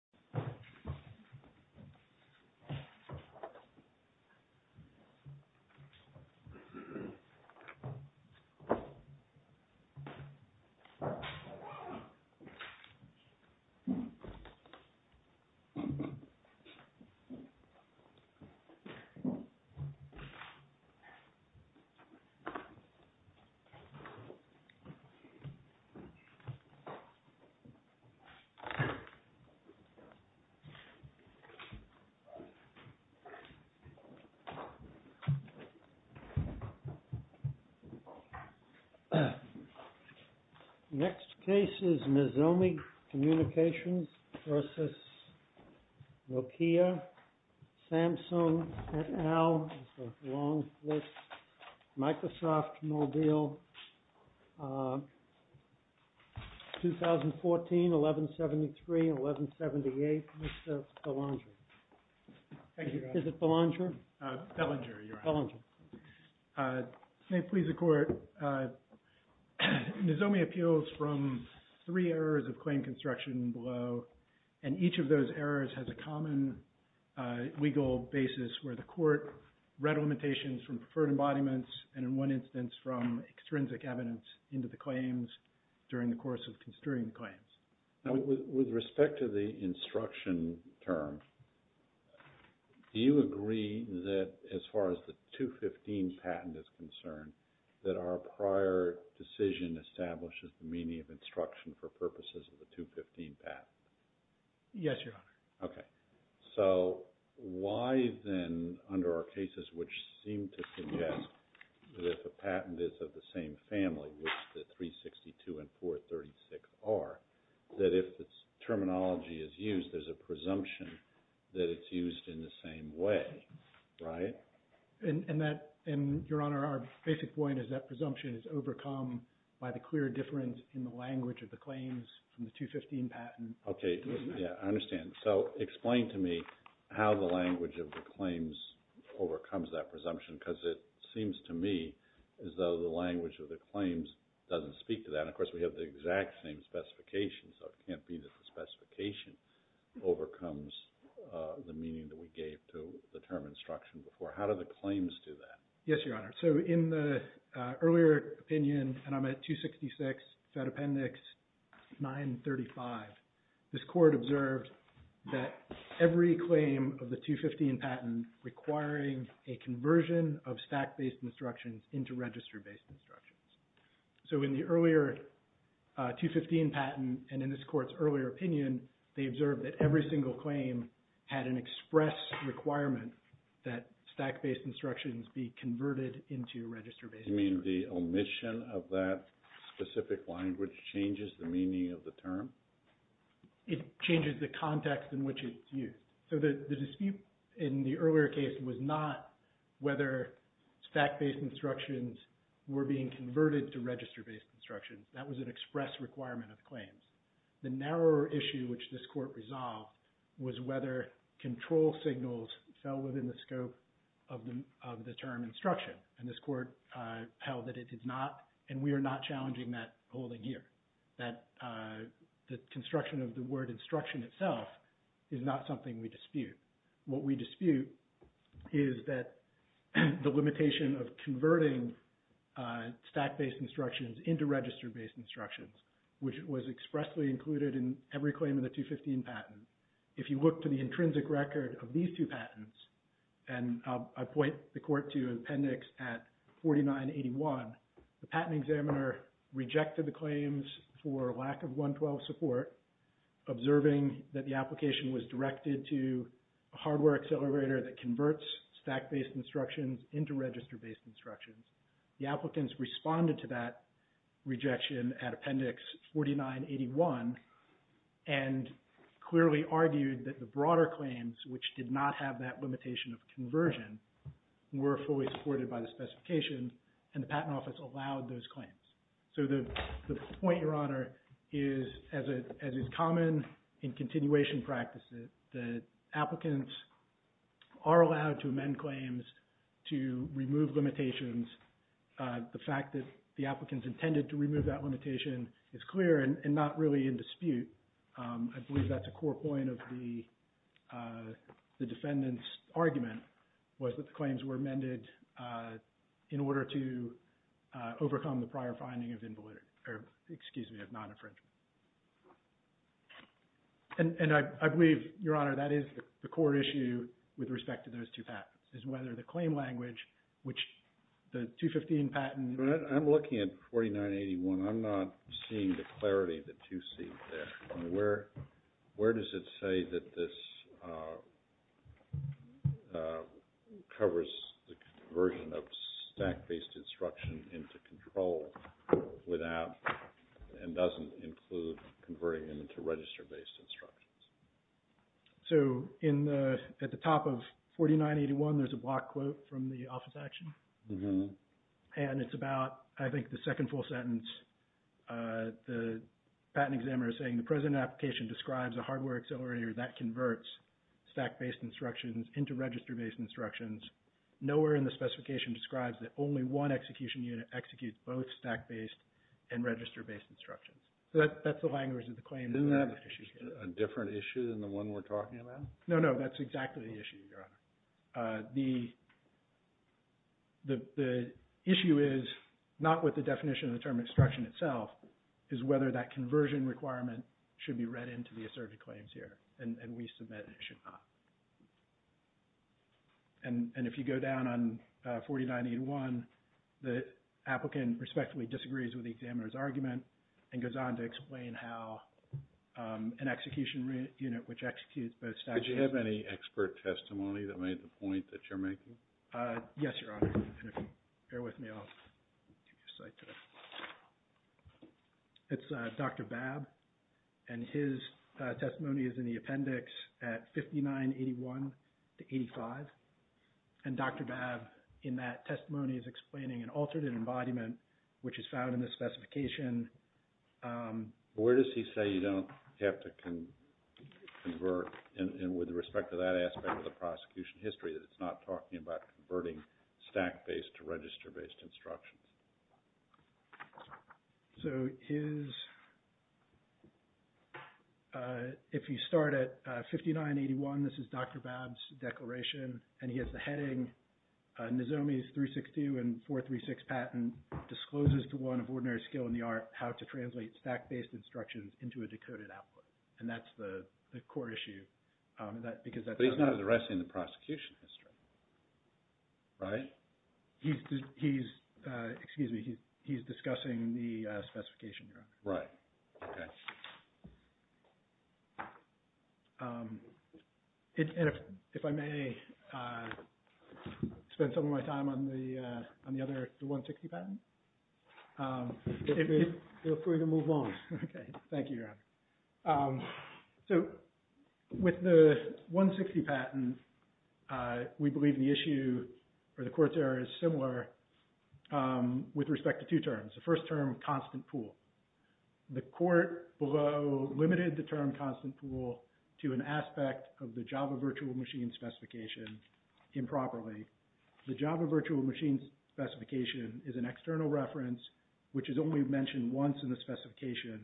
Microsoft Office Word Document MSWordDoc Word.Document.8 Next case is Mizomi Communications v. Nokia Samsung et al. Microsoft Mobile 2014-11-73-11-71 The case number is MSWordDoc Word.Document.8, Mr. Belanger. Thank you. Is it Belanger? Belanger, your honor. Belanger. May it please the Court, Mizomi appeals from three areas of claim construction below and each of those areas has a common legal basis where the Court read limitations from preferred embodiments and in one instance from extrinsic evidence into the claims during the course of construing the claims. With respect to the instruction term, do you agree that as far as the 215 patent is concerned that our prior decision establishes the meaning of instruction for purposes of the 215 patent? Yes, your honor. Okay. So why then under our cases which seem to suggest that if a patent is of the same family of which the 362 and 436 are, that if the terminology is used, there's a presumption that it's used in the same way, right? And that, your honor, our basic point is that presumption is overcome by the clear difference in the language of the claims from the 215 patent. Okay, yeah, I understand. So explain to me how the language of the claims overcomes that presumption because it seems to me as though the language of the claims doesn't speak to that. Of course, we have the exact same specifications so it can't be that the specification overcomes the meaning that we gave to the term instruction before. How do the claims do that? Yes, your honor. So in the earlier opinion, and I'm at 266 Fed Appendix 935, this Court observed that every claim of the 215 patent requiring a conversion of stack-based instructions into register-based instructions. So in the earlier 215 patent and in this Court's earlier opinion, they observed that every single claim had an express requirement that stack-based instructions be converted into register-based instructions. You mean the omission of that specific language changes the meaning of the term? It changes the context in which it's used. So the dispute in the earlier case was not whether stack-based instructions were being converted to register-based instructions. That was an express requirement of the claims. The narrower issue which this Court resolved was whether control signals fell within the scope of the term instruction. And this Court held that it did not, and we are not challenging that holding here. That the construction of the word instruction itself is not something we dispute. What we dispute is that the limitation of converting stack-based instructions into register-based instructions, which was expressly included in every claim in the 215 patent. If you look to the intrinsic record of these two patents, and I point the Court to Appendix at 4981, the patent examiner rejected the claims for lack of 112 support, observing that the application was directed to a hardware accelerator that converts stack-based instructions into register-based instructions. The applicants responded to that rejection at Appendix 4981 and clearly argued that the broader claims, which did not have that limitation of conversion, were fully supported by the specification and the Patent Office allowed those claims. So the point, Your Honor, is, as is common in continuation practices, that applicants are allowed to amend claims to remove limitations. The fact that the applicants intended to remove that limitation is clear and not really in dispute. I believe that's a core point of the defendant's argument, was that the claims were amended in order to overcome the prior finding of invalidity, or excuse me, of non-infringement. And I believe, Your Honor, that is the core issue with respect to those two patents, is whether the claim language, which the 215 patent... I'm looking at 4981. I'm not seeing the clarity of the two seats there. Where does it say that this covers the conversion of stack-based instruction into control without and doesn't include converting into register-based instructions? So at the top of 4981, there's a block quote from the office action. And it's about, I think, the second full sentence. The patent examiner is saying, the present application describes a hardware accelerator that converts stack-based instructions into register-based instructions. Nowhere in the specification describes that only one execution unit executes both stack-based and register-based instructions. So that's the language of the claim that we have at issue here. Isn't that a different issue than the one we're talking about? No, no, that's exactly the issue, Your Honor. The issue is, not with the definition of the term instruction itself, is whether that conversion requirement should be read into the asserted claims here, and we submit it should not. And if you go down on 4981, the applicant respectively disagrees with the examiner's argument and goes on to explain how an execution unit, which executes both stack-based... Did you have any expert testimony that made the point that you're making? Yes, Your Honor. And if you bear with me, I'll give you a second. It's Dr. Babb, and his testimony is in the appendix at 5981-85. And Dr. Babb, in that testimony, is explaining an altered embodiment, which is found in the specification. Where does he say you don't have to convert, and with respect to that aspect of the prosecution history, that it's not talking about converting stack-based to register-based instructions? So his... If you start at 5981, this is Dr. Babb's declaration, and he has the heading, Nizomi's 362 and 436 patent discloses to one of ordinary skill in the art how to translate stack-based instructions into a decoded output. And that's the core issue, because that's... That's none of the rest in the prosecution history. Right? He's... Excuse me. He's discussing the specification, Your Honor. Right. Okay. If I may spend some of my time on the other 160 patent, feel free to move on. Okay. Thank you, Your Honor. So with the 160 patent, we believe the issue, or the court's error, is similar with respect to two terms. The first term, constant pool. The court below limited the term constant pool to an aspect of the Java virtual machine specification improperly. The Java virtual machine specification is an external reference, which is only mentioned once in the specification,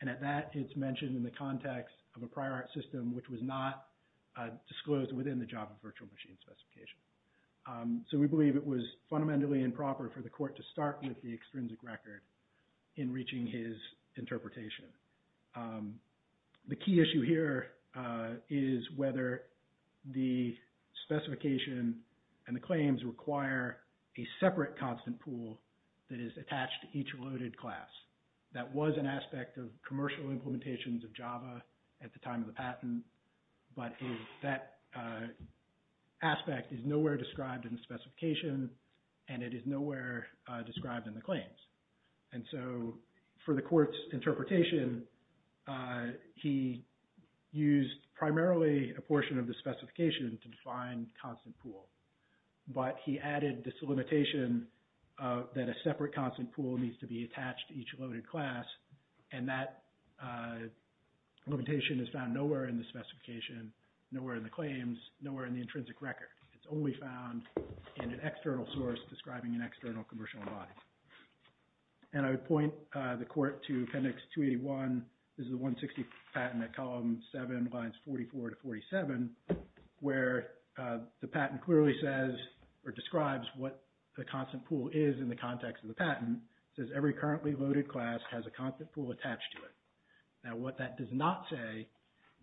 and at that, it's mentioned in the context of a prior art system, which was not disclosed within the Java virtual machine specification. So we believe it was fundamentally improper for the court to start with the extrinsic record in reaching his interpretation. The key issue here is whether the specification and the claims require a separate constant pool that is attached to each loaded class. That was an aspect of commercial implementations of Java at the time of the patent, but that aspect is nowhere described in the specification, and it is nowhere described in the claims. And so for the court's interpretation, he used primarily a portion of the specification to define constant pool, but he added this limitation that a separate constant pool needs to be attached to each loaded class, and that limitation is found nowhere in the specification, nowhere in the claims, nowhere in the intrinsic record. It's only found in an external source describing an external commercial embodiment. And I would point the court to Appendix 281. This is the 160 patent at column 7, lines 44 to 47, where the patent clearly says or describes what the constant pool is in the context of the patent. It says every currently loaded class has a constant pool attached to it. Now what that does not say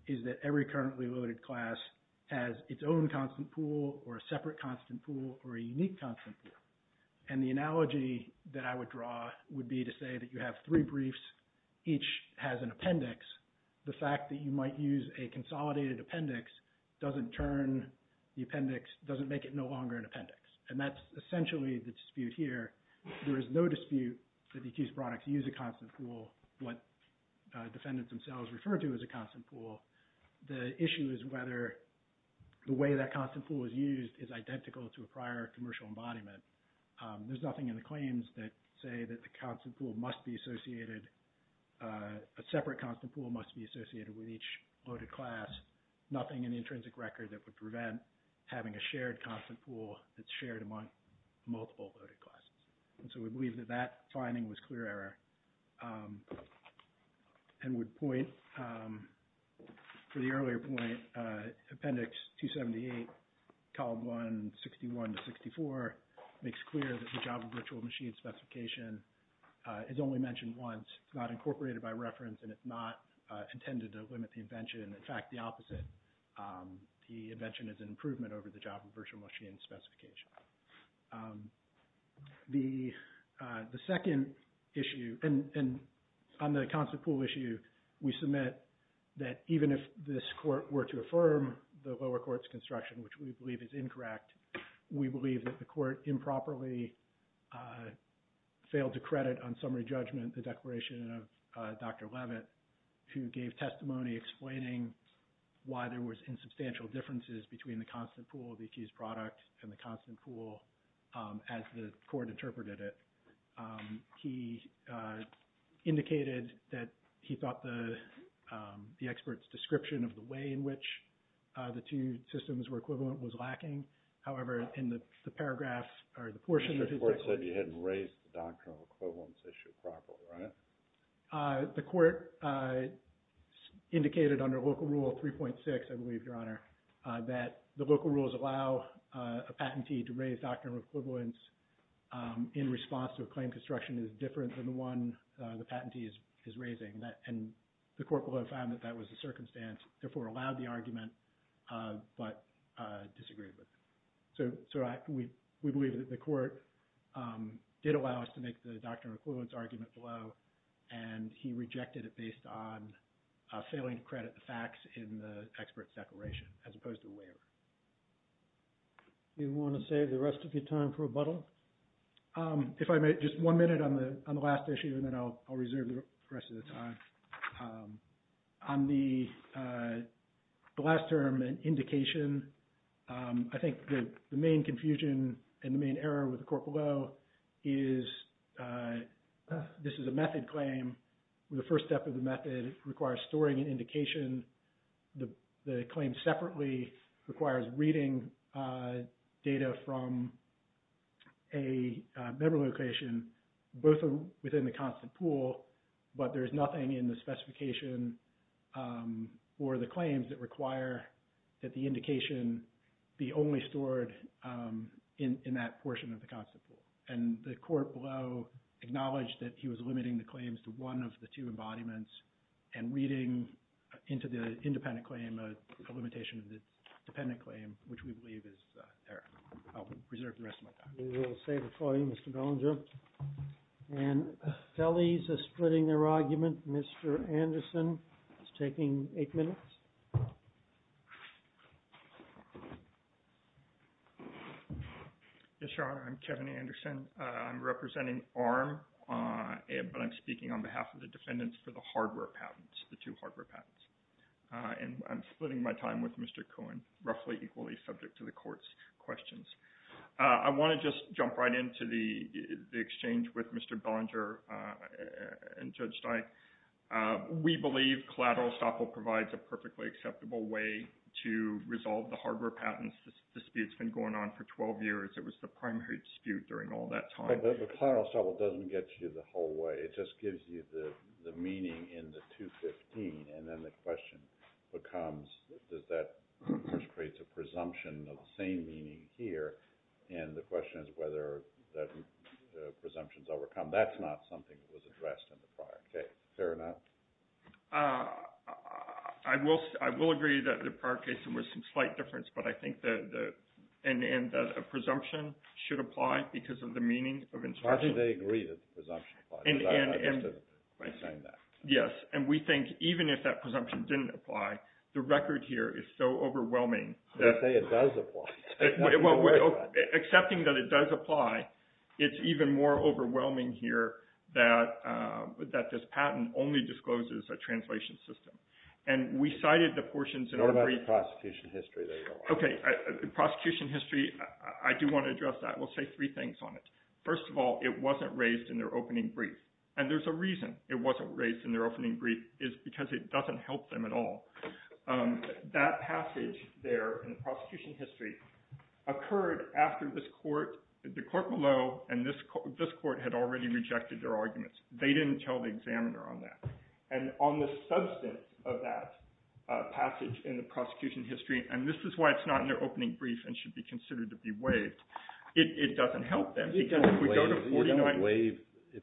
is that every currently loaded class has its own constant pool or a separate constant pool or a unique constant pool. And the analogy that I would draw would be to say that you have three briefs, each has an appendix. The fact that you might use a consolidated appendix doesn't turn the appendix, doesn't make it no longer an appendix. And that's essentially the dispute here. There is no dispute that the accused products use a constant pool, what defendants themselves refer to as a constant pool. The issue is whether the way that constant pool is used is identical to a prior commercial embodiment. There's nothing in the claims that say that the constant pool must be associated, a separate constant pool must be associated with each loaded class. Nothing in the intrinsic record that would prevent having a shared constant pool that's shared among multiple loaded classes. And so we believe that that finding was clear error and would point, for the earlier point, Appendix 278, Column 1, 61 to 64, makes clear that the Java virtual machine specification is only mentioned once. It's not incorporated by reference and it's not intended to limit the invention. In fact, the opposite, the invention is an improvement over the Java virtual machine specification. The second issue, and on the constant pool issue, we submit that even if this court were to affirm the lower court's construction, which we believe is incorrect, we believe that the court improperly failed to credit on summary judgment the declaration of Dr. Leavitt, who gave testimony explaining why there was insubstantial differences between the constant pool, the accused product, and the constant pool as the court interpreted it. He indicated that he thought the expert's description of the way in which the two systems were equivalent was lacking. However, in the paragraph, or the portion that he texted... The court said you hadn't raised the doctrinal equivalence issue properly, right? The court indicated under Local Rule 3.6, I believe, Your Honor, that the local rules allow a patentee to raise doctrinal equivalence in response to a claim construction that is different than the one the patentee is raising. And the court below found that that was the circumstance, therefore allowed the argument, but disagreed with it. So we believe that the court did allow us to make the doctrinal equivalence argument below, and he rejected it based on failing to credit the facts in the expert's declaration as opposed to the waiver. Do you want to save the rest of your time for rebuttal? If I may, just one minute on the last issue, and then I'll reserve the rest of the time. On the last term, an indication, I think the main confusion and the main error with the court below is this is a method claim. The first step of the method requires storing an indication. The claim separately requires reading data from a memory location, both within the constant pool, but there's nothing in the specification for the claims that require that the indication be only stored in that portion of the constant pool. And the court below acknowledged that he was limiting the claims to one of the two embodiments and reading into the independent claim a limitation of the dependent claim, which we believe is error. I'll reserve the rest of my time. We will save it for you, Mr. Bollinger. And fellies are splitting their argument. Mr. Anderson is taking eight minutes. Yes, Your Honor. I'm Kevin Anderson. I'm representing ARM, but I'm speaking on behalf of the defendants for the hardware patents, the two hardware patents. And I'm splitting my time with Mr. Cohen, roughly equally subject to the court's questions. I want to just jump right into the exchange with Mr. Bollinger and Judge Stein. We believe collateral estoppel provides a perfectly acceptable way to resolve the hardware patents. This dispute's been going on for 12 years. It was the primary dispute during all that time. But collateral estoppel doesn't get you the whole way. It just gives you the meaning in the 215, and then the question becomes, does that create a presumption of the same meaning here? And the question is whether the presumption's overcome. That's not something that was addressed in the prior case. Fair enough? I will agree that the prior case, there was some slight difference. But I think that a presumption should apply because of the meaning of interpretation. How do they agree that the presumption applies? Because I just didn't understand that. Yes. And we think even if that presumption didn't apply, the record here is so overwhelming that... You say it does apply. Well, accepting that it does apply, it's even more overwhelming here that this patent only discloses a translation system. And we cited the portions in our brief... What about the prosecution history? Okay. Prosecution history, I do want to address that. We'll say three things on it. First of all, it wasn't raised in their opening brief. And there's a reason. It wasn't raised in their opening brief is because it doesn't help them at all. That passage there in the prosecution history occurred after this court, the court below, and this court had already rejected their arguments. They didn't tell the examiner on that. And on the substance of that passage in the prosecution history, and this is why it's not in their opening brief and should be considered to be waived, it doesn't help them. If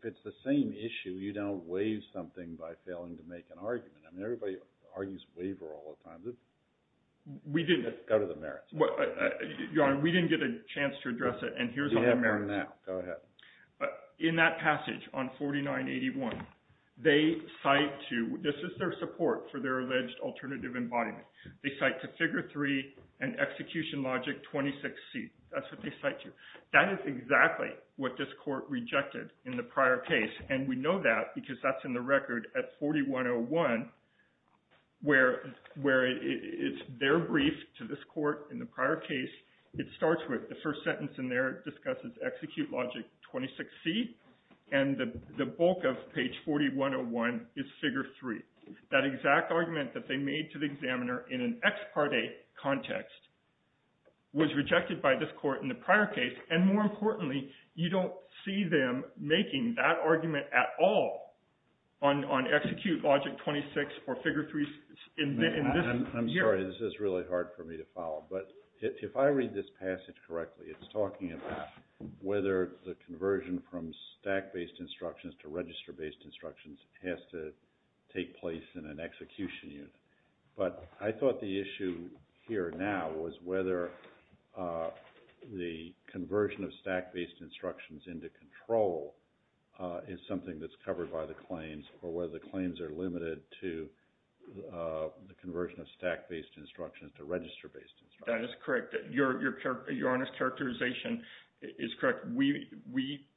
it's the same issue, you don't waive something by failing to make an argument. I mean, everybody argues waiver all the time. We didn't. Go to the merits. Your Honor, we didn't get a chance to address it, and here's on the merits. Go ahead. In that passage on 4981, they cite to... This is their support for their alleged alternative embodiment. They cite to figure three and execution logic 26C. That's what they cite to. That is exactly what this court rejected in the prior case, and we know that because that's in the record at 4101 where it's their brief to this court in the prior case. It starts with the first sentence in there. It discusses execute logic 26C, and the bulk of page 4101 is figure three. That exact argument that they made to the examiner in an ex parte context was rejected by this court in the prior case, and more importantly, you don't see them making that argument at all on execute logic 26 or figure three in this year. I'm sorry. This is really hard for me to follow, but if I read this passage correctly, it's talking about whether the conversion from stack-based instructions to register-based instructions has to take place in an execution unit. But I thought the issue here now was whether the conversion of stack-based instructions into control is something that's covered by the claims or whether the claims are limited to the conversion of stack-based instructions to register-based instructions. That is correct. Your honest characterization is correct. We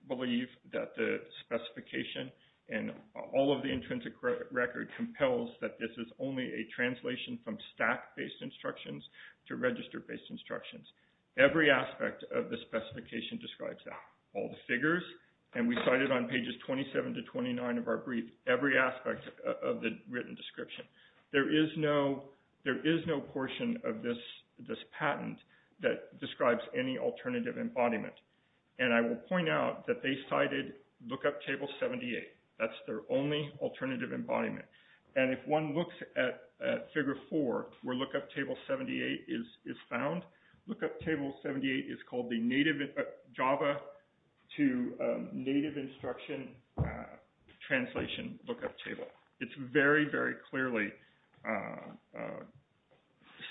believe that the specification and all of the intrinsic record compels that this is only a translation from stack-based instructions to register-based instructions. Every aspect of the specification describes that. All the figures, and we cite it on pages 27 to 29 of our brief, every aspect of the written description. There is no portion of this patent that describes any alternative embodiment. And I will point out that they cited Lookup Table 78. That's their only alternative embodiment. And if one looks at figure four, where Lookup Table 78 is found, Lookup Table 78 is called the Java to Native Instruction Translation Lookup Table. It very, very clearly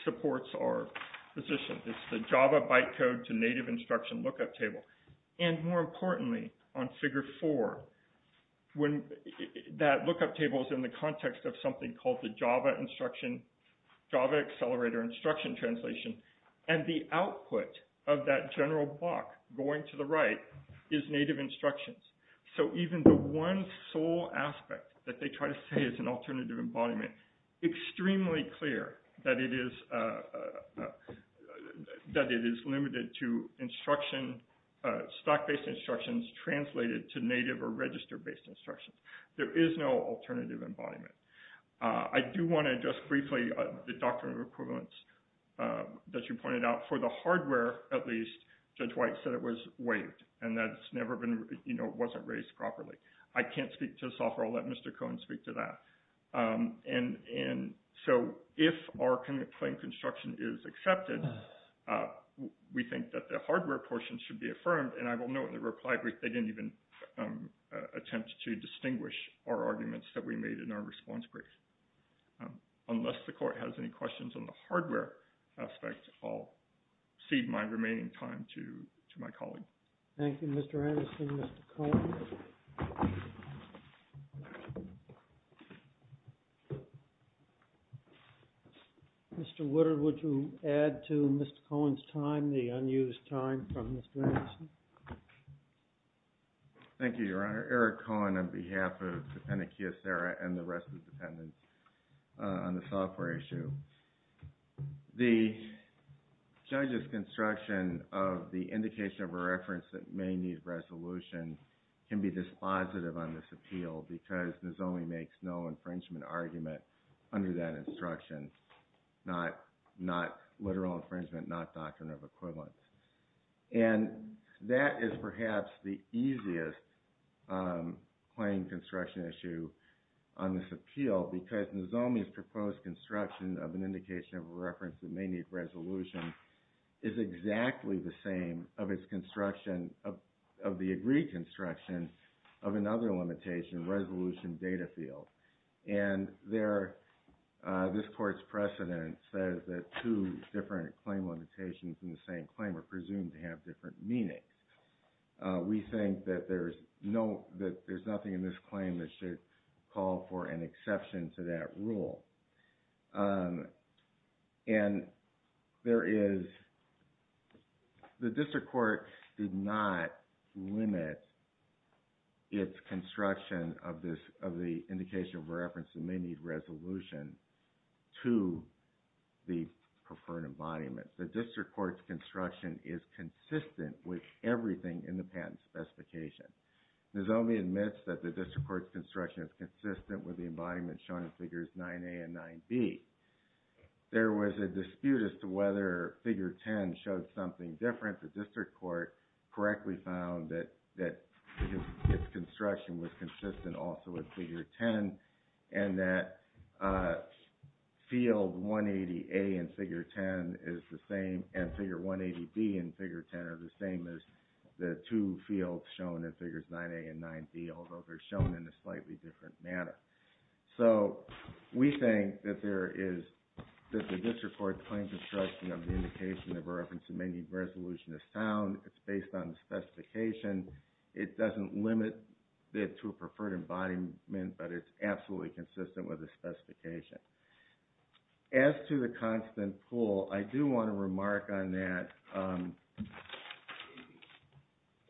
supports our position. It's the Java bytecode to Native Instruction Lookup Table. And more importantly, on figure four, that Lookup Table is in the context of something called the Java Accelerator Instruction Translation. And the output of that general block going to the right is Native Instructions. So even the one sole aspect that they try to say is an alternative embodiment, extremely clear that it is limited to instruction, stack-based instructions translated to native or register-based instructions. There is no alternative embodiment. I do want to address briefly the doctrine of equivalence that you pointed out. For the hardware, at least, Judge White said it was waived. And that it's never been, you know, it wasn't raised properly. I can't speak to the software. I'll let Mr. Cohen speak to that. And so if our complaint construction is accepted, we think that the hardware portion should be affirmed. And I will note in the reply brief, they didn't even attempt to distinguish our arguments that we made in our response brief. Unless the Court has any questions on the hardware aspect, I'll cede my remaining time to my colleague. Thank you, Mr. Anderson. Mr. Cohen? Mr. Woodard, would you add to Mr. Cohen's time the unused time from Mr. Anderson? Thank you, Your Honor. I'm Eric Cohen on behalf of the Penitentiary and the rest of the defendants on the software issue. The judge's construction of the indication of a reference that may need resolution can be dispositive on this appeal because Nozomi makes no infringement argument under that instruction. Not literal infringement, not doctrine of equivalence. And that is perhaps the easiest claim construction issue on this appeal because Nozomi's proposed construction of an indication of a reference that may need resolution is exactly the same of the agreed construction of another limitation, resolution data field. And this Court's precedent says that two different claim limitations in the same claim are presumed to have different meanings. We think that there's nothing in this claim that should call for an exception to that rule. And there is – the District Court did not limit its construction of this – of the indication of a reference that may need resolution to the preferred embodiment. The District Court's construction is consistent with everything in the patent specification. Nozomi admits that the District Court's construction is consistent with the embodiment shown in figures 9A and 9B. There was a dispute as to whether figure 10 showed something different. The District Court correctly found that its construction was consistent also with figure 10 and that field 180A in figure 10 is the same and figure 180B in figure 10 are the same as the two fields shown in figures 9A and 9B although they're shown in a slightly different manner. So we think that there is – that the District Court's claim construction of the indication of a reference that may need resolution is sound. It's based on the specification. It doesn't limit it to a preferred embodiment, but it's absolutely consistent with the specification. As to the constant pool, I do want to remark on that.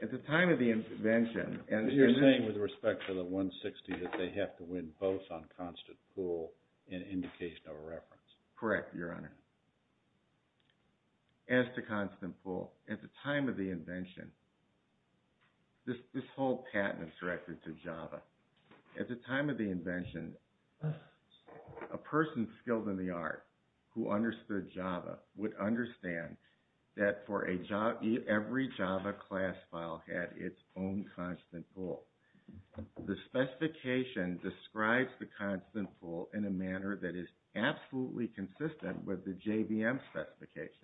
At the time of the invention – You're saying with respect to the 160 that they have to win both on constant pool and indication of a reference? Correct, Your Honor. As to constant pool, at the time of the invention, this whole patent is directed to Java. At the time of the invention, a person skilled in the art who understood Java would understand that for every Java class file had its own constant pool. The specification describes the constant pool in a manner that is absolutely consistent with the JVM specification.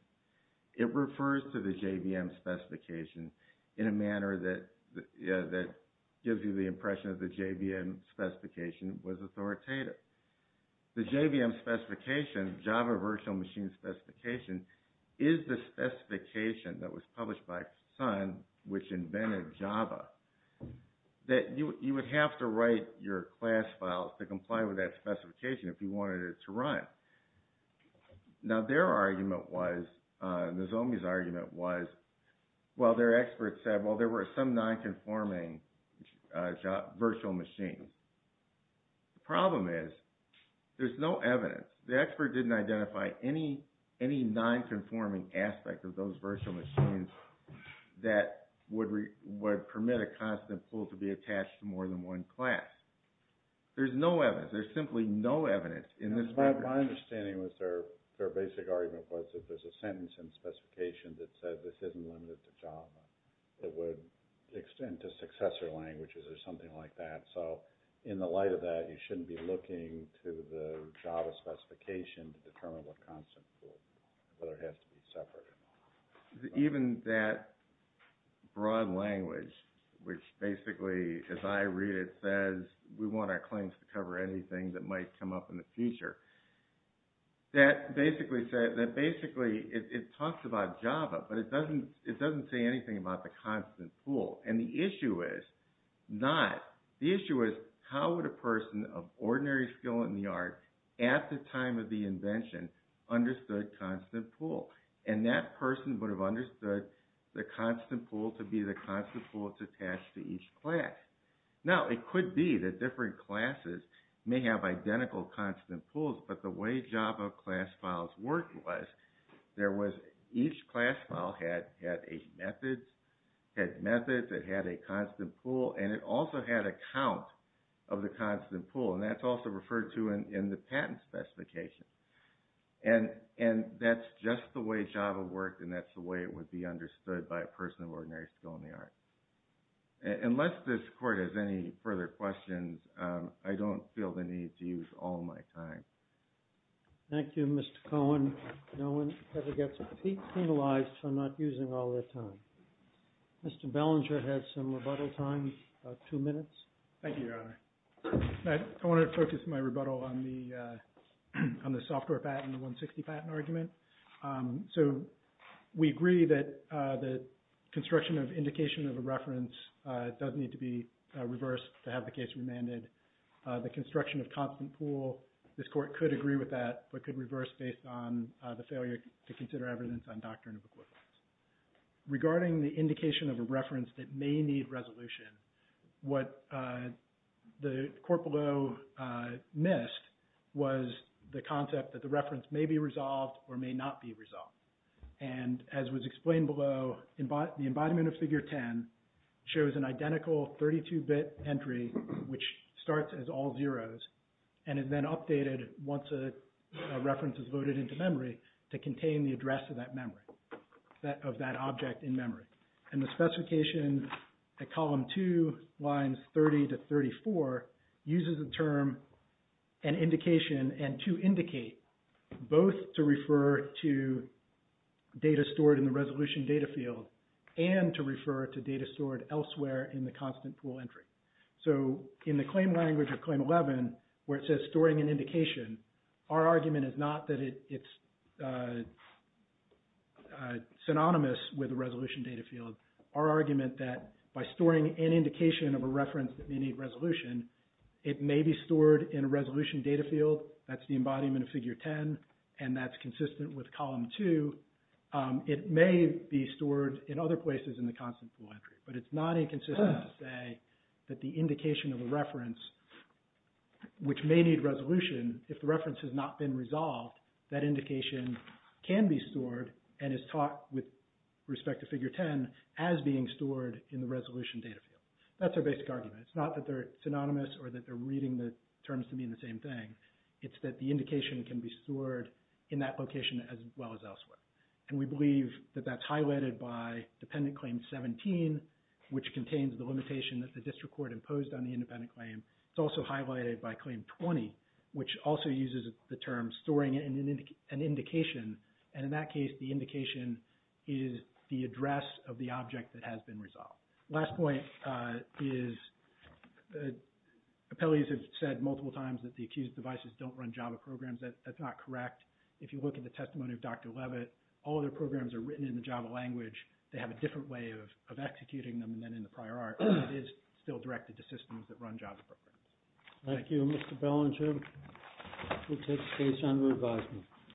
It refers to the JVM specification in a manner that gives you the impression that the JVM specification was authoritative. The JVM specification, Java Virtual Machine Specification, is the specification that was published by Sun, which invented Java, that you would have to write your class files to comply with that specification if you wanted it to run. Now, their argument was, Nozomi's argument was, well, their experts said, well, there were some non-conforming virtual machines. The problem is, there's no evidence. The expert didn't identify any non-conforming aspect of those virtual machines that would permit a constant pool to be attached to more than one class. There's no evidence. There's simply no evidence in this record. My understanding was their basic argument was that there's a sentence in the specification that said this isn't limited to Java. It would extend to successor languages or something like that. So, in the light of that, you shouldn't be looking to the Java specification to determine what constant pool, whether it has to be separate or not. Even that broad language, which basically, as I read it, says, we want our claims to cover anything that might come up in the future. That basically says, it talks about Java, but it doesn't say anything about the constant pool. And the issue is not, the issue is, how would a person of ordinary skill in the art, at the time of the invention, understood constant pool? And that person would have understood the constant pool to be the constant pool to attach to each class. Now, it could be that different classes may have identical constant pools, but the way Java class files worked was, each class file had methods, it had a constant pool, and it also had a count of the constant pool. And that's also referred to in the patent specification. And that's just the way Java worked, and that's the way it would be understood by a person of ordinary skill in the art. Unless this court has any further questions, I don't feel the need to use all my time. Thank you, Mr. Cohen. No one ever gets penalized for not using all their time. Mr. Bellinger had some rebuttal time, about two minutes. Thank you, Your Honor. I want to focus my rebuttal on the software patent, the 160 patent argument. So we agree that the construction of indication of a reference does need to be reversed to have the case remanded. The construction of constant pool, this court could agree with that, but could reverse based on the failure to consider evidence on doctrine of equivalence. Regarding the indication of a reference that may need resolution, what the court below missed was the concept that the reference may be resolved or may not be resolved. And as was explained below, the embodiment of Figure 10 shows an identical 32-bit entry, which starts as all zeros, and is then updated once a reference is loaded into memory to contain the address of that memory, of that object in memory. And the specification at column two, lines 30 to 34, uses the term an indication and to indicate both to refer to data stored in the resolution data field and to refer to data stored elsewhere in the constant pool entry. So in the claim language of Claim 11, where it says storing an indication, our argument is not that it's synonymous with a resolution data field. Our argument that by storing an indication of a reference that may need resolution, it may be stored in a resolution data field, that's the embodiment of Figure 10, and that's consistent with column two. It may be stored in other places in the constant pool entry, but it's not inconsistent to say that the indication of a reference, which may need resolution, if the reference has not been resolved, that indication can be stored and is taught with respect to Figure 10 as being stored in the resolution data field. That's our basic argument. It's not that they're synonymous or that they're reading the terms to mean the same thing. It's that the indication can be stored in that location as well as elsewhere. And we believe that that's highlighted by Dependent Claim 17, which contains the limitation that the district court imposed on the independent claim. It's also highlighted by Claim 20, which also uses the term storing an indication. And in that case, the indication is the address of the object that has been resolved. Last point is appellees have said multiple times that the accused devices don't run Java programs. That's not correct. If you look at the testimony of Dr. Levitt, all of their programs are written in the Java language. They have a different way of executing them than in the prior art, but it is still directed to systems that run Java programs. Thank you, Mr. Bellinger. We'll take the case under advisement.